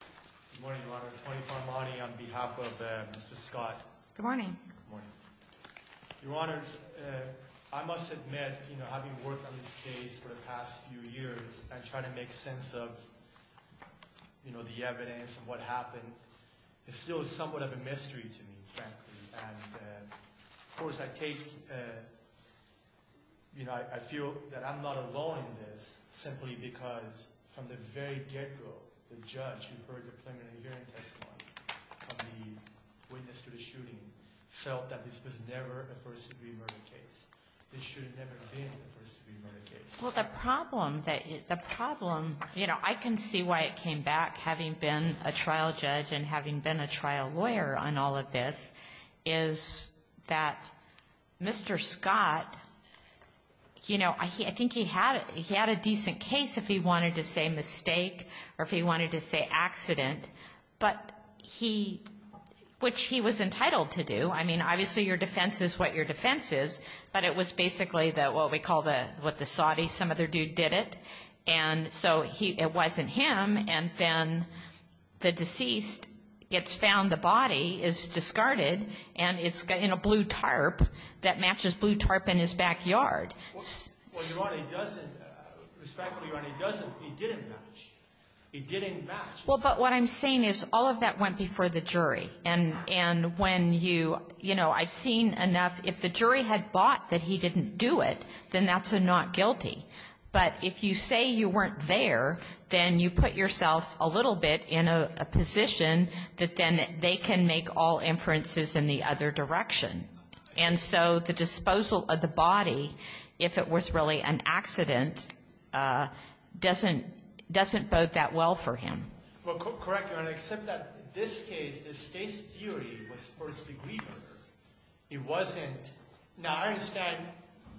Good morning, Your Honor. Tony Farmani on behalf of Mr. Scott. Good morning. Good morning. Your Honor, I must admit, you know, having worked on this case for the past few years, and trying to make sense of, you know, the evidence and what happened, it's still somewhat of a mystery to me, frankly. And, of course, I take, you know, I feel that I'm not alone in this, simply because, from the very get-go, the judge who heard the preliminary hearing testimony from the witness to the shooting felt that this was never a first-degree murder case. This should have never been a first-degree murder case. Well, the problem, you know, I can see why it came back, having been a trial judge and having been a trial lawyer on all of this, is that Mr. Scott, you know, I think he had a decent case if he wanted to say mistake or if he wanted to say accident, which he was entitled to do. I mean, obviously your defense is what your defense is, but it was basically what we call what the Saudis, some other dude, did it. And so it wasn't him, and then the deceased gets found. The body is discarded, and it's in a blue tarp that matches blue tarp in his backyard. Well, Your Honor, he doesn't. Respectfully, Your Honor, he doesn't. He didn't match. He didn't match. Well, but what I'm saying is all of that went before the jury. And when you, you know, I've seen enough. If the jury had bought that he didn't do it, then that's a not guilty. But if you say you weren't there, then you put yourself a little bit in a position that then they can make all inferences in the other direction. And so the disposal of the body, if it was really an accident, doesn't, doesn't bode that well for him. Well, correct, Your Honor, except that this case, this case theory was first degree murder. It wasn't. Now, I understand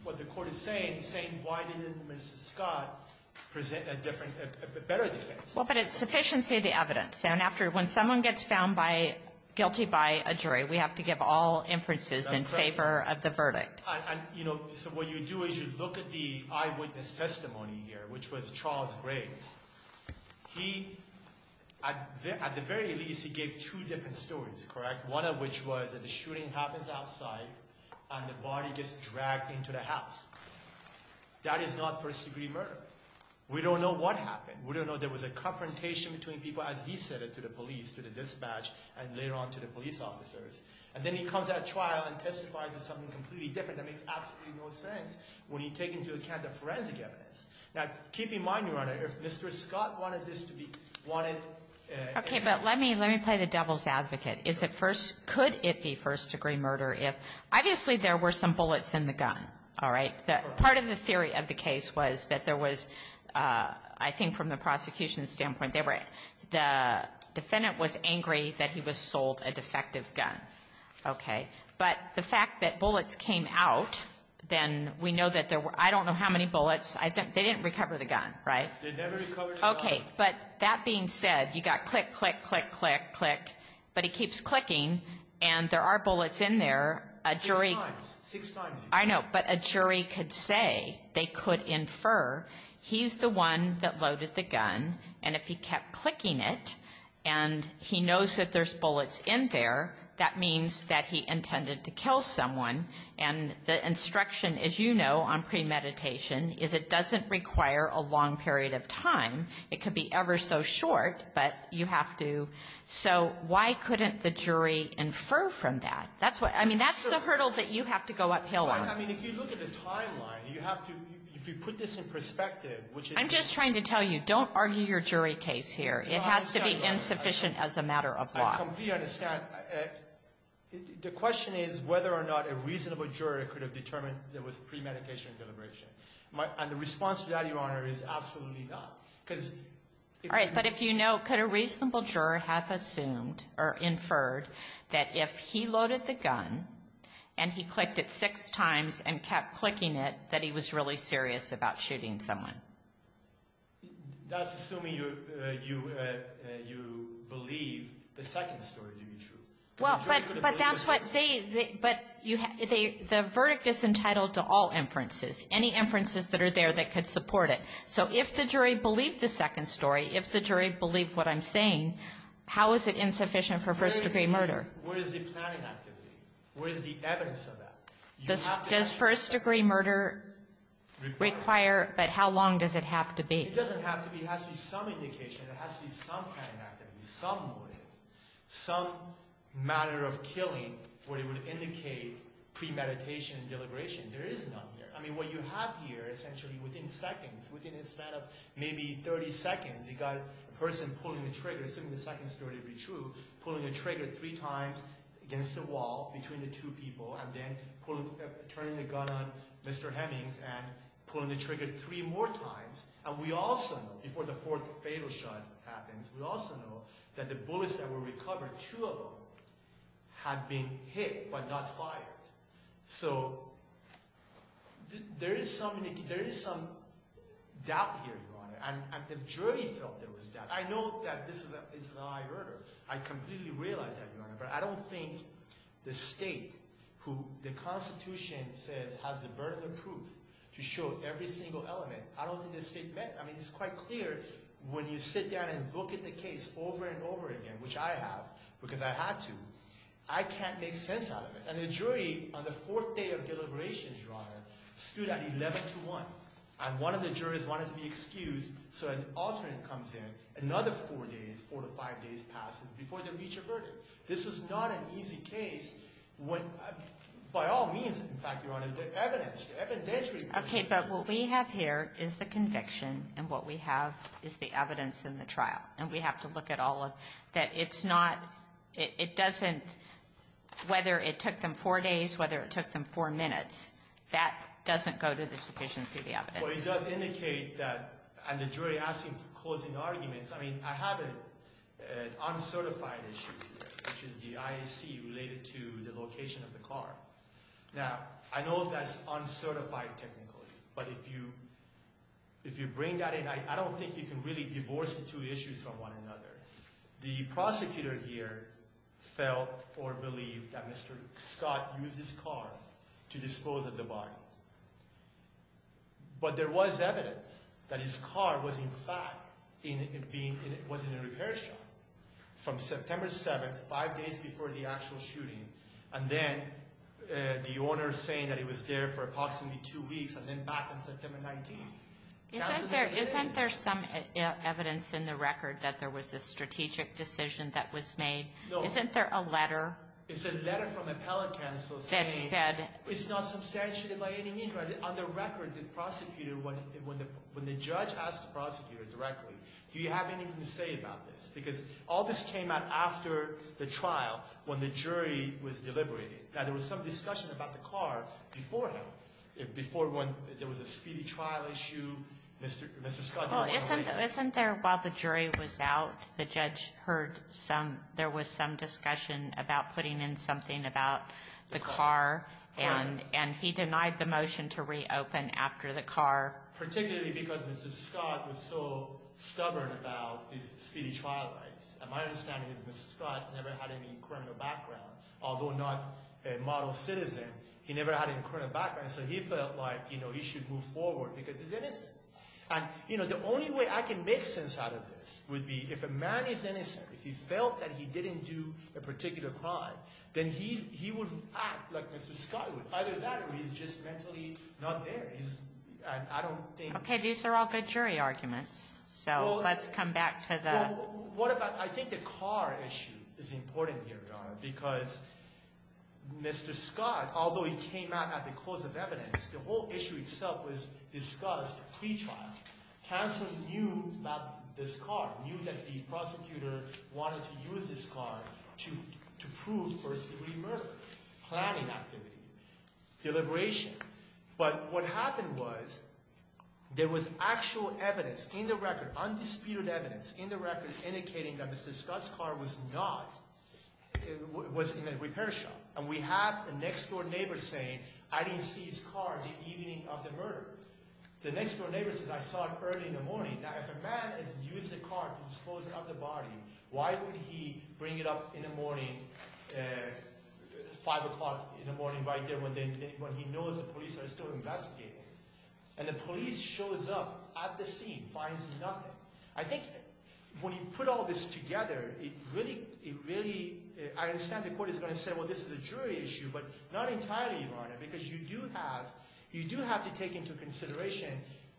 what the Court is saying, saying why didn't Mr. Scott present a different, a better defense. Well, but it's sufficiency of the evidence. And after, when someone gets found by, guilty by a jury, we have to give all inferences in favor of the verdict. And, you know, so what you do is you look at the eyewitness testimony here, which was Charles Graves. He, at the very least, he gave two different stories, correct? One of which was that the shooting happens outside and the body gets dragged into the house. That is not first degree murder. We don't know what happened. We don't know there was a confrontation between people, as he said it, to the police, to the dispatch, and later on to the police officers. And then he comes at a trial and testifies as something completely different. That makes absolutely no sense when you take into account the forensic evidence. Now, keep in mind, Your Honor, if Mr. Scott wanted this to be, wanted to be ---- Okay. But let me, let me play the devil's advocate. Is it first, could it be first degree murder if, obviously, there were some bullets in the gun, all right? The part of the theory of the case was that there was, I think from the prosecution's standpoint, there were, the defendant was angry that he was sold a defective gun, okay? But the fact that bullets came out, then we know that there were, I don't know how many bullets. They didn't recover the gun, right? They never recovered the gun. Okay. But that being said, you got click, click, click, click, click, but he keeps clicking and there are bullets in there. A jury ---- Six times. I know, but a jury could say, they could infer, he's the one that loaded the gun and if he kept clicking it and he knows that there's bullets in there, that means that he intended to kill someone. And the instruction, as you know, on premeditation, is it doesn't require a long period of time. It could be ever so short, but you have to, so why couldn't the jury infer from that? That's what, I mean, that's the hurdle that you have to go uphill on. I mean, if you look at the timeline, you have to, if you put this in perspective which is ---- I'm just trying to tell you, don't argue your jury case here. It has to be insufficient as a matter of law. I completely understand. The question is whether or not a reasonable juror could have determined there was premeditation deliberation. And the response to that, Your Honor, is absolutely not, because ---- All right. But if you know, could a reasonable juror have assumed or inferred that if he loaded the gun and he clicked it six times and kept clicking it, that he was really serious about shooting someone? That's assuming you believe the second story to be true. Well, but that's what they ---- But the verdict is entitled to all inferences, any inferences that are there that could support it. So if the jury believed the second story, if the jury believed what I'm saying, how is it insufficient for first-degree murder? Where is the planning activity? Where is the evidence of that? Does first-degree murder require ---- Require. But how long does it have to be? It doesn't have to be. It has to be some indication. It has to be some planning activity, some motive, some matter of killing where it would indicate premeditation deliberation. There is none here. I mean, what you have here essentially within seconds, within a span of maybe 30 seconds, you got a person pulling a trigger, assuming the second story to be true, pulling a trigger three times against the wall between the two people and then turning the gun on Mr. Hemmings and pulling the trigger three more times. And we also know, before the fourth fatal shot happens, we also know that the bullets that were recovered, two of them, had been hit but not fired. So there is some doubt here, Your Honor. And the jury felt there was doubt. I know that this is a high order. I completely realize that, Your Honor, but I don't think the state who the Constitution says has the burden of proof to show every single element, I don't think the state meant it. I mean, it's quite clear when you sit down and look at the case over and over again, which I have because I had to, I can't make sense out of it. And the jury on the fourth day of deliberations, Your Honor, stood at 11-1. And one of the juries wanted to be excused so an alternate comes in, another four days, four to five days passes before they reach a verdict. This is not an easy case when, by all means, in fact, Your Honor, the evidence, the evidentiary evidence. Okay, but what we have here is the conviction and what we have is the evidence in the trial. And we have to look at all of that. It's not, it doesn't, whether it took them four days, whether it took them four minutes, that doesn't go to the sufficiency of the evidence. Well, it does indicate that, and the jury asking for closing arguments, I mean, I have an uncertified issue, which is the IAC related to the location of the car. Now, I know that's uncertified technically, but if you bring that in, I don't think you can really divorce the two issues from one another. The prosecutor here felt or believed that Mr. Scott used his car to dispose of the body. But there was evidence that his car was, in fact, was in a repair shop from September 7th, five days before the actual shooting. And then the owner saying that he was there for approximately two weeks and then back on September 19th. Isn't there some evidence in the record that there was a strategic decision that was made? Isn't there a letter? It's a letter from appellate counsel saying it's not substantiated by any means. On the record, the prosecutor, when the judge asked the prosecutor directly, do you have anything to say about this? Because all this came out after the trial, when the jury was deliberating. Now, there was some discussion about the car before when there was a speedy trial issue. Mr. Scott, do you want to weigh in? Well, isn't there, while the jury was out, the judge heard some, there was some discussion about putting in something about the car. And he denied the motion to reopen after the car. Particularly because Mr. Scott was so stubborn about his speedy trial rights. And my understanding is Mr. Scott never had any criminal background. Although not a model citizen, he never had any criminal background. So he felt like he should move forward because he's innocent. And the only way I can make sense out of this would be if a man is innocent, if he felt that he didn't do a particular crime, then he would act like Mr. Scott would. Either that or he's just mentally not there. He's, I don't think. Okay, these are all good jury arguments. So let's come back to the. What about, I think the car issue is important here, Donna. Because Mr. Scott, although he came out at the course of evidence, the whole issue itself was discussed pre-trial. Counsel knew about this car. Knew that the prosecutor wanted to use this car to prove first degree murder. Planning activity. Deliberation. But what happened was there was actual evidence in the record, undisputed evidence in the record indicating that Mr. Scott's car was not, was in a repair shop. And we have a next door neighbor saying, I didn't see his car the evening of the murder. The next door neighbor says, I saw it early in the morning. Now, if a man has used a car to dispose of the body, why would he bring it up in the morning, five o'clock in the morning right there when he knows the police are still investigating? And the police shows up at the scene, finds nothing. I think when you put all this together, it really, I understand the court is going to say, well, this is a jury issue. But not entirely, Your Honor. Because you do have, you do have to take into consideration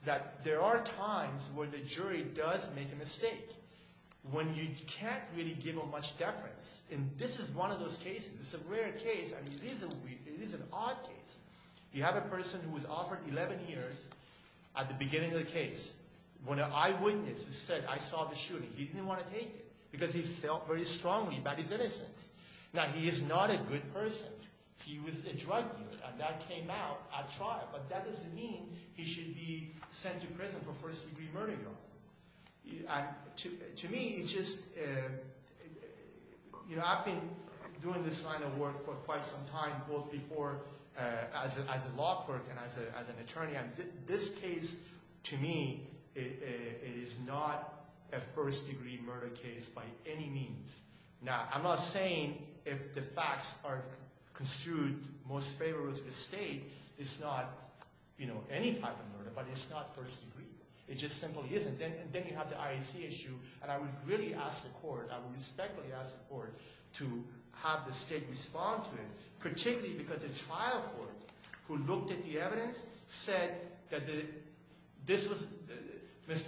that there are times where the jury does make a mistake when you can't really give a much deference. And this is one of those cases. It's a rare case. I mean, it is an odd case. You have a person who was offered 11 years at the beginning of the case. When an eyewitness said, I saw the shooting, he didn't want to take it because he felt very strongly about his innocence. Now, he is not a good person. He was a drug dealer. And that came out at trial. But that doesn't mean he should be sent to prison for first-degree murder, Your Honor. To me, it's just, you know, I've been doing this kind of work for quite some time, both before as a law clerk and as an attorney. And this case, to me, it is not a first-degree murder case by any means. Now, I'm not saying if the facts are construed most favorably to the state, it's not, you know, any type of murder, but it's not first-degree. It just simply isn't. Then you have the IAC issue, and I would really ask the court, I would respectfully ask the court to have the state respond to him, particularly because the trial court, who looked at the evidence, said that this was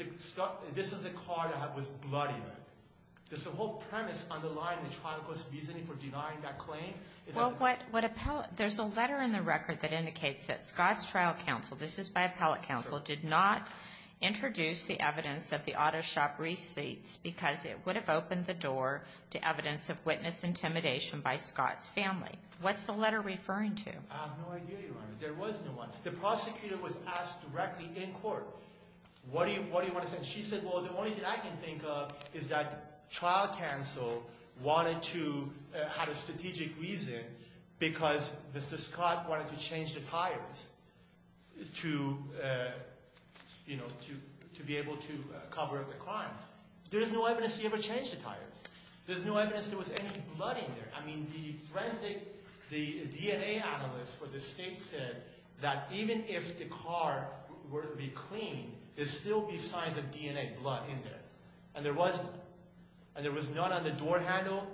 a car that was bloody. Does the whole premise underline the trial court's reasoning for denying that claim? Well, there's a letter in the record that indicates that Scott's trial counsel, this is by appellate counsel, did not introduce the evidence of the auto shop receipts because it would have opened the door to evidence of witness intimidation by Scott's family. What's the letter referring to? I have no idea, Your Honor. There was no one. The prosecutor was asked directly in court, what do you want to say? And she said, well, the only thing I can think of is that trial counsel wanted to have a strategic reason because Mr. Scott wanted to change the tires to, you know, to be able to cover up the crime. There is no evidence he ever changed the tires. There's no evidence there was any blood in there. I mean, the forensic, the DNA analysts for the state said that even if the car were to be cleaned, there would still be signs of DNA blood in there. And there was none. And there was none on the door handle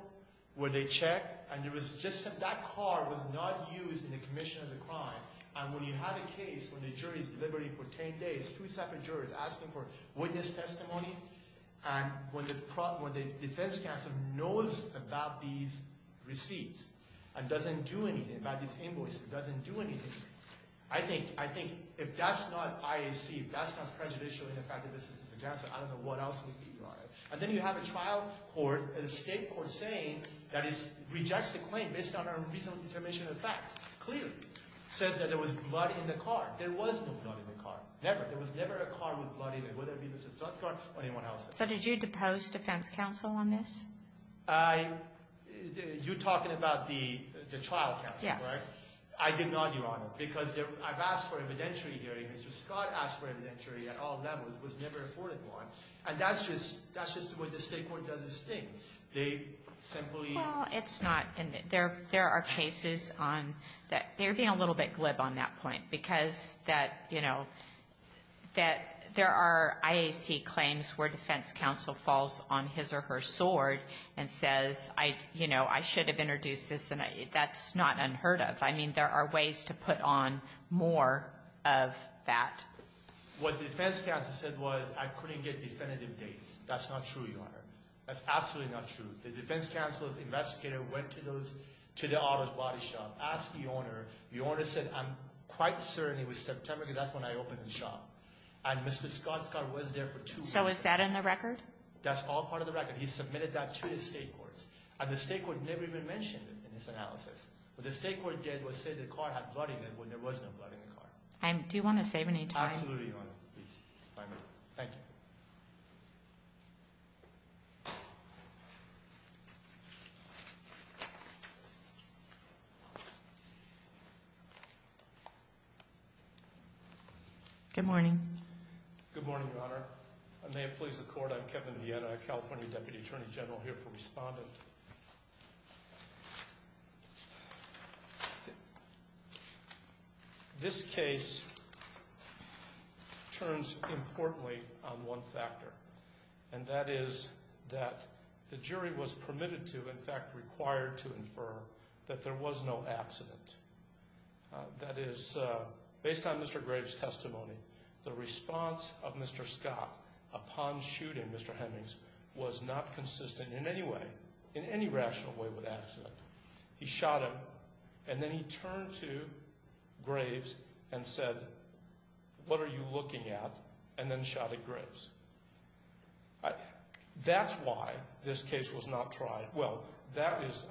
where they checked. And there was just some – that car was not used in the commission of the crime. And when you have a case where the jury's deliberating for 10 days, two separate juries asking for witness testimony, and when the defense counsel knows about these receipts and doesn't do anything, about these invoices, doesn't do anything, I think if that's not IAC, if that's not prejudicial in the fact that this is a cancer, I don't know what else would be, Your Honor. And then you have a trial court, an escape court, saying that it rejects the claim based on a reasonable determination of facts, clearly says that there was blood in the car. There was no blood in the car, never. There was never a car with blood in it, whether it be Mr. Scott's car or anyone else's. So did you depose defense counsel on this? You're talking about the trial counsel, right? Yes. I did not, Your Honor, because I've asked for evidentiary hearings. Mr. Scott asked for evidentiary at all levels. It was never afforded one. And that's just – that's just the way the State court does its thing. They simply – Well, it's not – there are cases on – they're being a little bit glib on that point because that, you know, that there are IAC claims where defense counsel falls on his or her sword and says, you know, I should have introduced this, and that's not unheard of. I mean, there are ways to put on more of that. What defense counsel said was I couldn't get definitive dates. That's not true, Your Honor. That's absolutely not true. The defense counsel's investigator went to those – to the auto body shop, asked the owner. The owner said, I'm quite certain it was September, because that's when I opened the shop. And Mr. Scott's car was there for two months. So is that in the record? That's all part of the record. He submitted that to the State courts. And the State court never even mentioned it in his analysis. What the State court did was say the car had blood in it when there was no blood in the car. Do you want to save any time? Absolutely, Your Honor. Thank you. Good morning. Good morning, Your Honor. May it please the Court, I'm Kevin Vietta, a California Deputy Attorney General here for Respondent. This case turns importantly on one factor, and that is that the jury was permitted to, in fact, required to infer that there was no accident. That is, based on Mr. Graves' testimony, the response of Mr. Scott upon shooting Mr. Hemmings was not consistent in any way, in any rational way, with accident. He shot him, and then he turned to Graves and said, what are you looking at? And then shot at Graves. That's why this case was not tried. Well, that is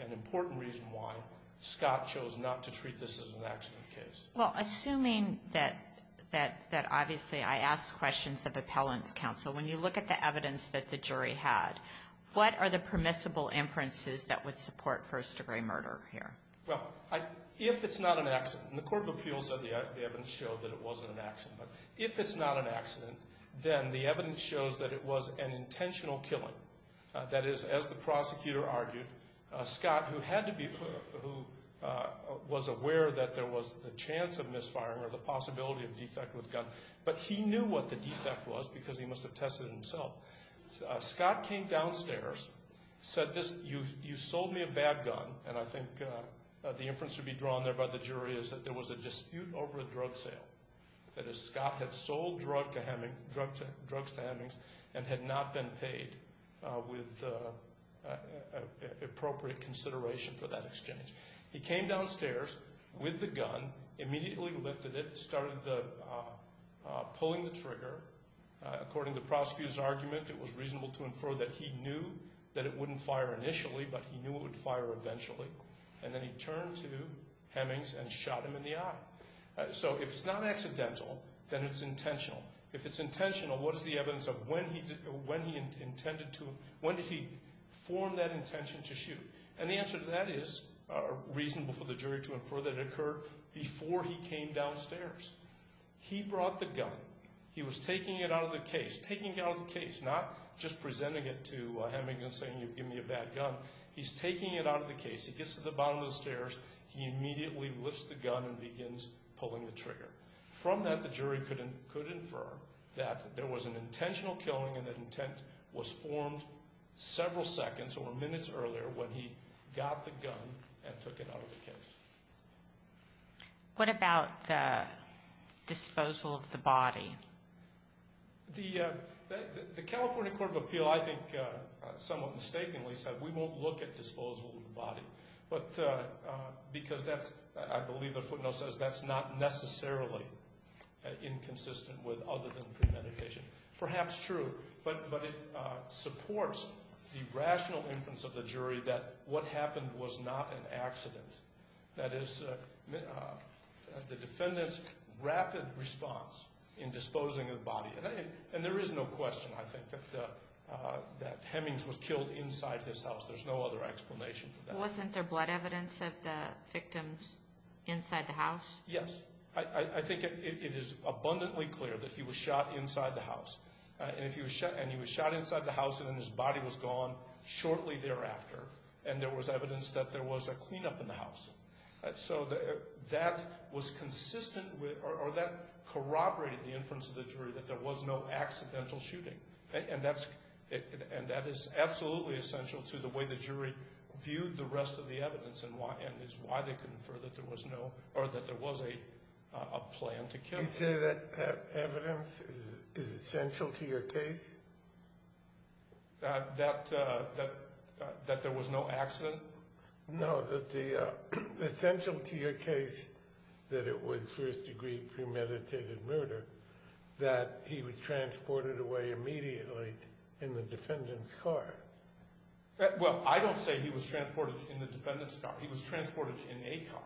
an important reason why Scott chose not to treat this as an accident case. Well, assuming that obviously I asked questions of appellant's counsel, when you look at the evidence that the jury had, what are the permissible inferences that would support first-degree murder here? Well, if it's not an accident, and the Court of Appeals said the evidence showed that it wasn't an accident, but if it's not an accident, then the evidence shows that it was an intentional killing. That is, as the prosecutor argued, Scott, who had to be, who was aware that there was the chance of misfiring or the possibility of defect with gun, but he knew what the defect was because he must have tested it himself. Scott came downstairs, said this, you sold me a bad gun, and I think the inference to be drawn there by the jury is that there was a dispute over a drug sale. That is, Scott had sold drugs to Hemmings and had not been paid with appropriate consideration for that exchange. He came downstairs with the gun, immediately lifted it, started pulling the trigger. According to the prosecutor's argument, it was reasonable to infer that he knew that it wouldn't fire initially, but he knew it would fire eventually. And then he turned to Hemmings and shot him in the eye. So if it's not accidental, then it's intentional. If it's intentional, what is the evidence of when he intended to, when did he form that intention to shoot? And the answer to that is reasonable for the jury to infer that it occurred before he came downstairs. He brought the gun. He was taking it out of the case, taking it out of the case, not just presenting it to Hemmings and saying you've given me a bad gun. He's taking it out of the case. He gets to the bottom of the stairs. He immediately lifts the gun and begins pulling the trigger. From that, the jury could infer that there was an intentional killing and that intent was formed several seconds or minutes earlier when he got the gun and took it out of the case. What about disposal of the body? The California Court of Appeal, I think, somewhat mistakenly said we won't look at disposal of the body because that's, I believe the footnote says, that's not necessarily inconsistent with other than premeditation. Perhaps true. But it supports the rational inference of the jury that what happened was not an accident. That is the defendant's rapid response in disposing of the body. And there is no question, I think, that Hemmings was killed inside his house. There's no other explanation for that. Wasn't there blood evidence of the victims inside the house? Yes. I think it is abundantly clear that he was shot inside the house. And he was shot inside the house and then his body was gone shortly thereafter. And there was evidence that there was a cleanup in the house. So that was consistent with or that corroborated the inference of the jury that there was no accidental shooting. And that is absolutely essential to the way the jury viewed the rest of the evidence and is why they confer that there was no or that there was a plan to kill. You say that evidence is essential to your case? That there was no accident? No, that the essential to your case that it was first degree premeditated murder, that he was transported away immediately in the defendant's car. Well, I don't say he was transported in the defendant's car. He was transported in a car.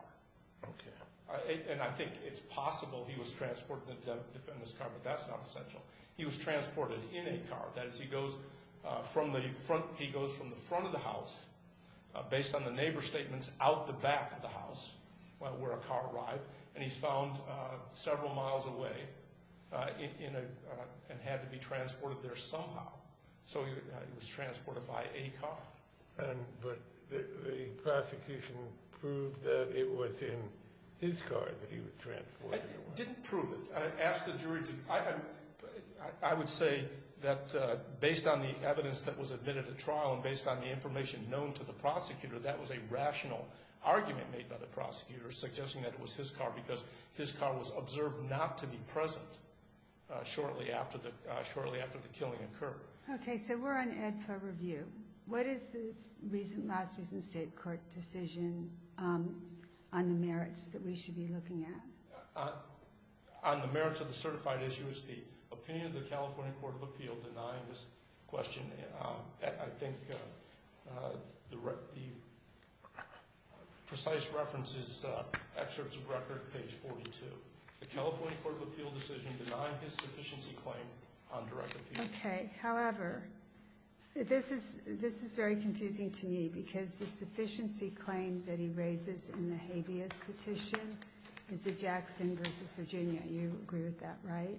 And I think it's possible he was transported in the defendant's car, but that's not essential. He was transported in a car. That is, he goes from the front of the house, based on the neighbor's statements, out the back of the house where a car arrived. And he's found several miles away and had to be transported there somehow. So he was transported by a car. But the prosecution proved that it was in his car that he was transported away. It didn't prove it. I would say that based on the evidence that was admitted at trial and based on the information known to the prosecutor, that was a rational argument made by the prosecutor suggesting that it was his car because his car was observed not to be present shortly after the killing occurred. Okay. So we're on AEDPA review. What is the last recent state court decision on the merits that we should be looking at? On the merits of the certified issue, it's the opinion of the California Court of Appeal denying this question. I think the precise reference is excerpts of record, page 42. The California Court of Appeal decision denied his sufficiency claim on direct appeal. Okay. However, this is very confusing to me because the sufficiency claim that he raises in the habeas petition is the Jackson v. Virginia. You agree with that, right?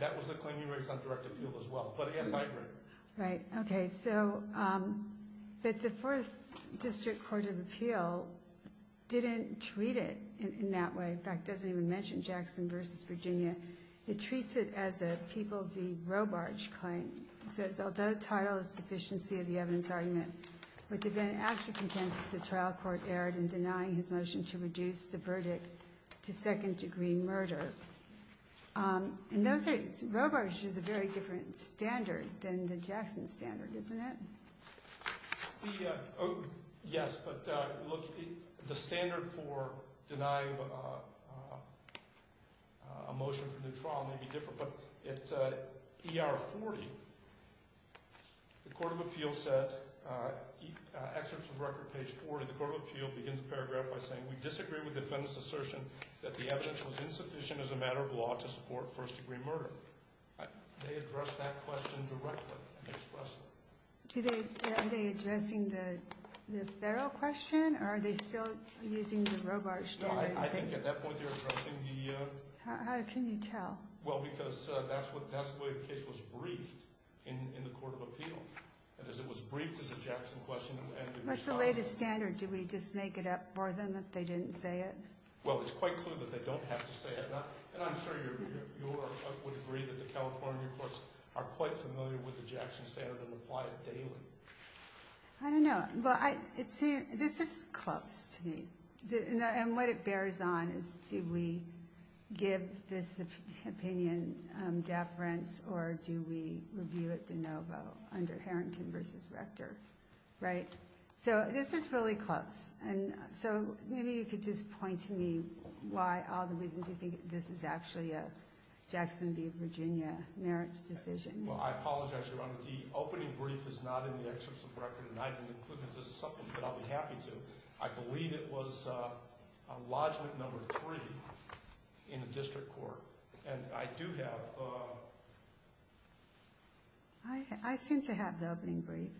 That was the claim he raised on direct appeal as well. But, yes, I agree. Right. Okay. So the Fourth District Court of Appeal didn't treat it in that way. In fact, it doesn't even mention Jackson v. Virginia. It treats it as a people v. Robarch claim. It says, although title is sufficiency of the evidence argument, what the defendant actually contends is the trial court erred in denying his motion to reduce the verdict to second-degree murder. And Robarch is a very different standard than the Jackson standard, isn't it? Yes, but look, the standard for denying a motion for new trial may be different. But at ER 40, the Court of Appeal said, excerpts of record, page 40, the Court of Appeal begins the paragraph by saying, we disagree with the defendant's assertion that the evidence was insufficient as a matter of law to support first-degree murder. They addressed that question directly and expressed it. Are they addressing the federal question, or are they still using the Robarch standard? No, I think at that point they're addressing the ‑‑ How can you tell? Well, because that's the way the case was briefed in the Court of Appeal. It was briefed as a Jackson question. What's the latest standard? Did we just make it up for them if they didn't say it? Well, it's quite clear that they don't have to say it. And I'm sure you would agree that the California courts are quite familiar with the Jackson standard and apply it daily. I don't know. But this is close to me. And what it bears on is do we give this opinion deference or do we review it de novo under Harrington v. Rector, right? So this is really close. And so maybe you could just point to me why all the reasons you think this is actually a Jackson v. Virginia merits decision. Well, I apologize, Your Honor. The opening brief is not in the excerpts of the record, and I didn't include them. This is something that I'll be happy to. I believe it was a lodgment number three in the district court. And I do have ‑‑ I seem to have the opening brief.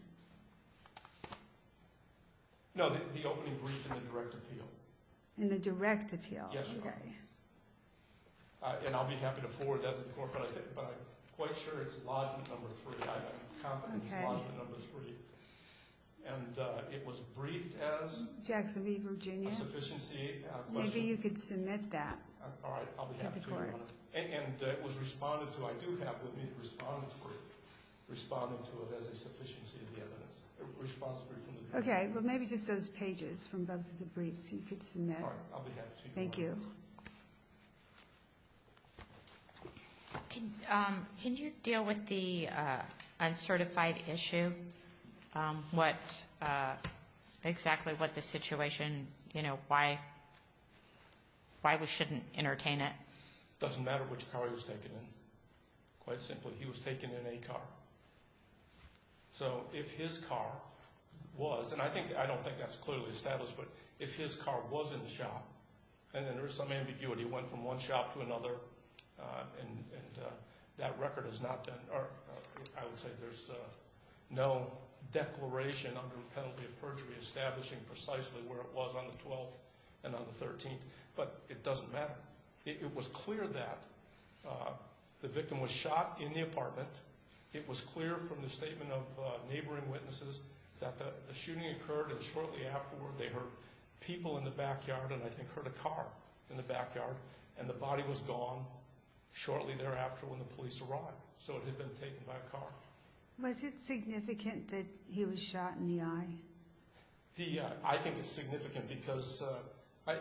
No, the opening brief in the direct appeal. In the direct appeal? Yes, Your Honor. Okay. And I'll be happy to forward that to the court. But I'm quite sure it's lodgment number three. I have confidence it's lodgment number three. And it was briefed as? Jackson v. Virginia. A sufficiency question. Maybe you could submit that to the court. All right, I'll be happy to. And it was responded to. I do have the response brief responding to it as a sufficiency of the evidence. A response brief from the district court. Okay. Well, maybe just those pages from both of the briefs you could submit. All right, I'll be happy to. Thank you. Can you deal with the uncertified issue? Exactly what the situation, you know, why we shouldn't entertain it? It doesn't matter which car he was taken in. Quite simply, he was taken in a car. So if his car was, and I don't think that's clearly established, but if his car was in the shop and there was some ambiguity, it went from one shop to another, and that record is not then ‑‑ I would say there's no declaration under the penalty of perjury establishing precisely where it was on the 12th and on the 13th, but it doesn't matter. It was clear that the victim was shot in the apartment. It was clear from the statement of neighboring witnesses that the shooting occurred, and shortly afterward they heard people in the backyard, and I think heard a car in the backyard, and the body was gone shortly thereafter when the police arrived. So it had been taken by a car. Was it significant that he was shot in the eye? I think it's significant because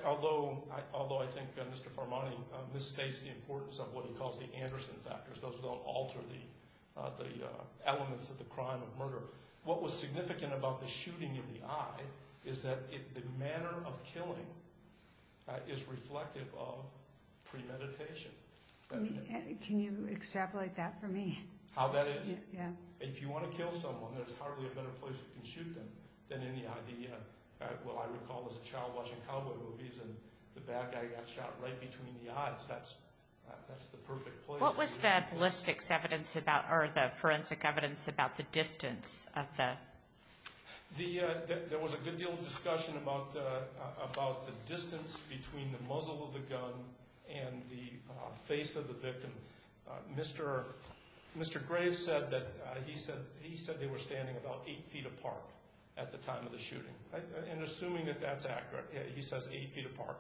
although I think Mr. Farmani misstates the importance of what he calls the Anderson factors, those don't alter the elements of the crime of murder. What was significant about the shooting in the eye is that the manner of killing is reflective of premeditation. Can you extrapolate that for me? How that is? Yeah. If you want to kill someone, there's hardly a better place you can shoot them than in the eye. Well, I recall as a child watching cowboy movies, and the bad guy got shot right between the eyes. That's the perfect place. What was the forensics evidence about the distance of the ‑‑ There was a good deal of discussion about the distance between the muzzle of the gun and the face of the victim. Mr. Graves said that he said they were standing about 8 feet apart at the time of the shooting. And assuming that that's accurate, he says 8 feet apart.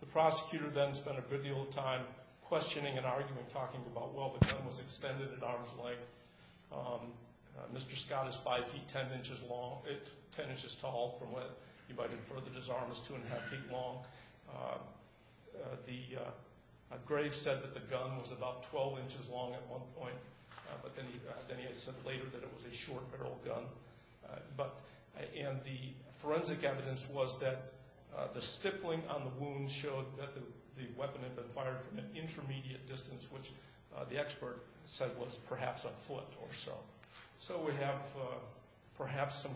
The prosecutor then spent a good deal of time questioning and arguing, talking about, well, the gun was extended at arm's length. Mr. Scott is 5 feet 10 inches tall from what you might infer that his arm was 2 1⁄2 feet long. Graves said that the gun was about 12 inches long at one point, but then he said later that it was a short barrel gun. And the forensic evidence was that the stippling on the wound showed that the weapon had been fired from an intermediate distance, which the expert said was perhaps a foot or so. So we have perhaps some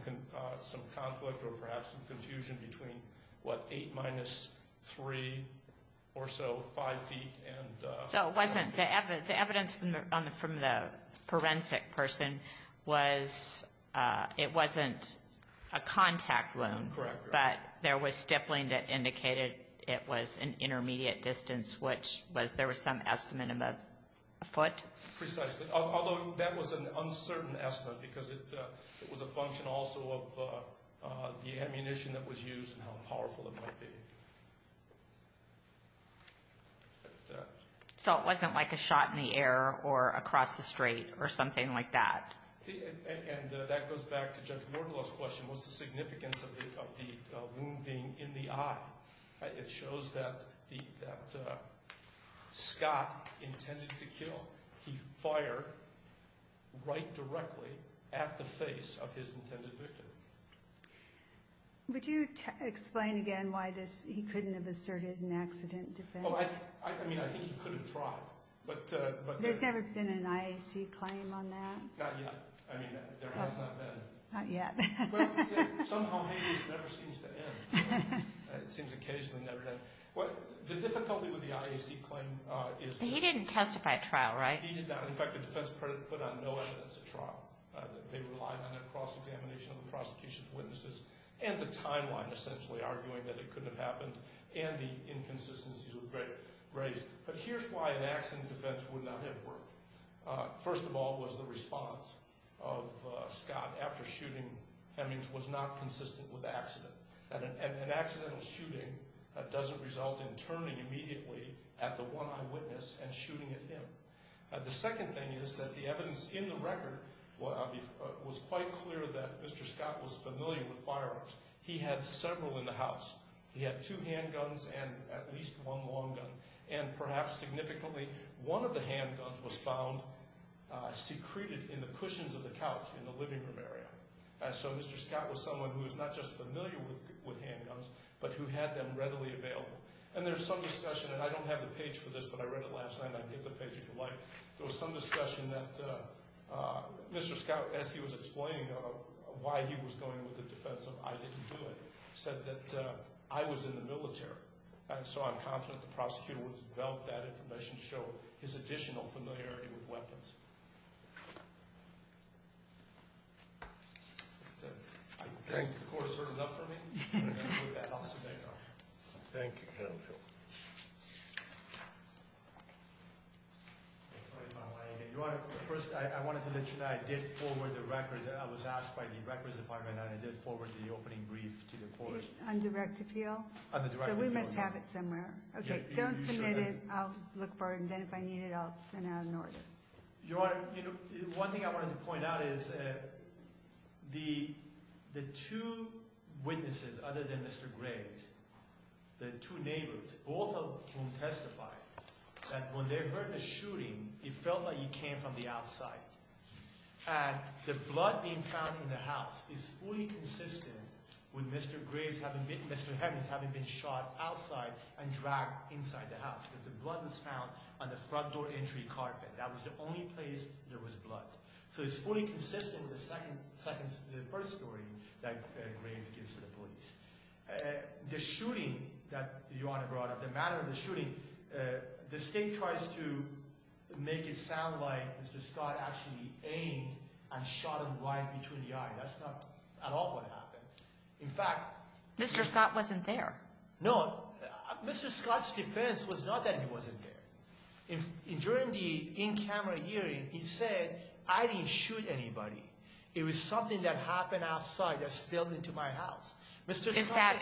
conflict or perhaps some confusion between what, 8 minus 3 or so, 5 feet. So the evidence from the forensic person was it wasn't a contact wound. Correct. But there was stippling that indicated it was an intermediate distance, which there was some estimate of a foot. Precisely, although that was an uncertain estimate because it was a function also of the ammunition that was used and how powerful it might be. So it wasn't like a shot in the air or across the street or something like that. And that goes back to Judge Myrtle's question, what's the significance of the wound being in the eye? It shows that Scott intended to kill. He fired right directly at the face of his intended victim. Would you explain again why he couldn't have asserted an accident defense? I mean, I think he could have tried. There's never been an IAC claim on that? Not yet. I mean, there has not been. Not yet. Well, somehow Hayden's never seems to end. It seems occasionally never ends. The difficulty with the IAC claim is that He didn't testify at trial, right? He did not. In fact, the defense put on no evidence at trial. They relied on a cross-examination of the prosecution's witnesses and the timeline essentially arguing that it couldn't have happened and the inconsistencies were raised. But here's why an accident defense would not have worked. First of all was the response of Scott after shooting Hemings was not consistent with the accident. An accidental shooting doesn't result in turning immediately at the one eyewitness and shooting at him. The second thing is that the evidence in the record was quite clear that Mr. Scott was familiar with firearms. He had several in the house. He had two handguns and at least one long gun. And perhaps significantly, one of the handguns was found secreted in the cushions of the couch in the living room area. So Mr. Scott was someone who was not just familiar with handguns but who had them readily available. And there's some discussion, and I don't have the page for this, but I read it last night and I'll get the page if you like. There was some discussion that Mr. Scott, as he was explaining why he was going with the defense of I didn't do it, said that I was in the military. And so I'm confident the prosecutor will develop that information to show his additional familiarity with weapons. I think the court has heard enough from me. First, I wanted to mention that I did forward the record. I was asked by the records department and I did forward the opening brief to the court. On direct appeal? On the direct appeal. So we must have it somewhere. Okay, don't submit it. I'll look for it, and then if I need it, I'll send out an order. Your Honor, one thing I wanted to point out is the two witnesses, other than Mr. Graves, the two neighbors, both of whom testified that when they heard the shooting, it felt like it came from the outside. And the blood being found in the house is fully consistent with Mr. Graves having been shot outside and dragged inside the house because the blood was found on the front door entry carpet. That was the only place there was blood. So it's fully consistent with the first story that Graves gives to the police. The shooting that Your Honor brought up, the matter of the shooting, the state tries to make it sound like Mr. Scott actually aimed and shot him right between the eyes. That's not at all what happened. In fact. Mr. Scott wasn't there. No. Mr. Scott's defense was not that he wasn't there. During the in-camera hearing, he said, I didn't shoot anybody. It was something that happened outside that spilled into my house. Is that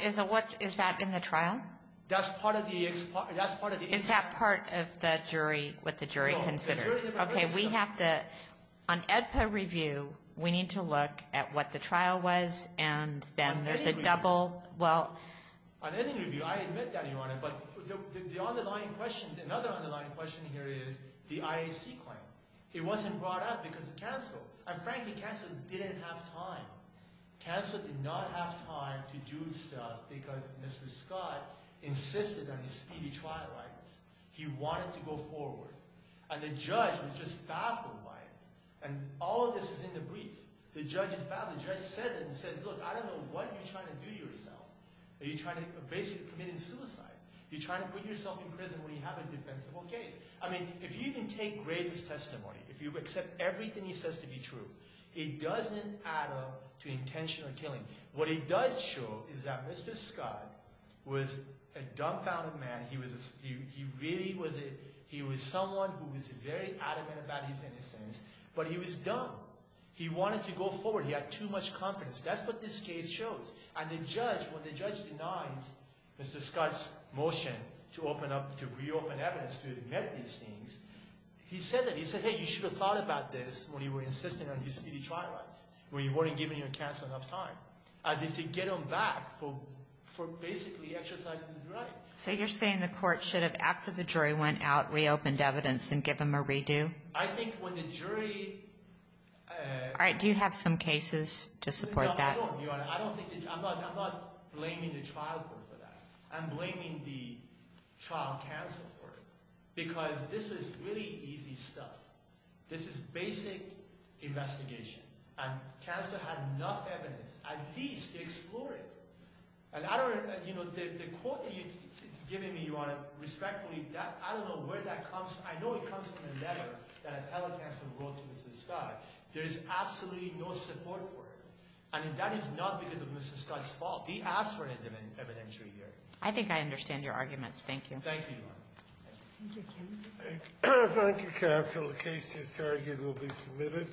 in the trial? That's part of the inquiry. Is that part of what the jury considered? No. Okay. We have to, on EDPA review, we need to look at what the trial was and then there's a double. Well. On any review, I admit that, Your Honor. But the underlying question, another underlying question here is the IAC claim. It wasn't brought up because of counsel. And frankly, counsel didn't have time. Counsel did not have time to do stuff because Mr. Scott insisted on his speedy trial rights. He wanted to go forward. And the judge was just baffled by it. And all of this is in the brief. The judge is baffled. The judge says it and says, look, I don't know what you're trying to do to yourself. Are you basically committing suicide? Are you trying to put yourself in prison when you have a defensible case? I mean, if you even take Gray's testimony, if you accept everything he says to be true, it doesn't add up to intentional killing. What it does show is that Mr. Scott was a dumbfounded man. He really was someone who was very adamant about his innocence. But he was dumb. He wanted to go forward. He had too much confidence. That's what this case shows. And the judge, when the judge denies Mr. Scott's motion to reopen evidence to admit these things, he said that. He said, hey, you should have thought about this when you were insisting on your speedy trial rights, when you weren't giving your counsel enough time, as if to get him back for basically exercising his right. So you're saying the court should have, after the jury went out, reopened evidence and give him a redo? I think when the jury— All right. Do you have some cases to support that? No, I don't, Your Honor. I don't think—I'm not blaming the trial court for that. I'm blaming the trial counsel court because this is really easy stuff. This is basic investigation. And counsel had enough evidence, at least, to explore it. And I don't—you know, the quote that you're giving me, Your Honor, respectfully, that—I don't know where that comes from. I know it comes from a letter that Appellate Counsel wrote to Mr. Scott. There is absolutely no support for it. I mean, that is not because of Mr. Scott's fault. He asked for it in an evidentiary hearing. I think I understand your arguments. Thank you. Thank you, Your Honor. Thank you, counsel. The case is carried. It will be submitted.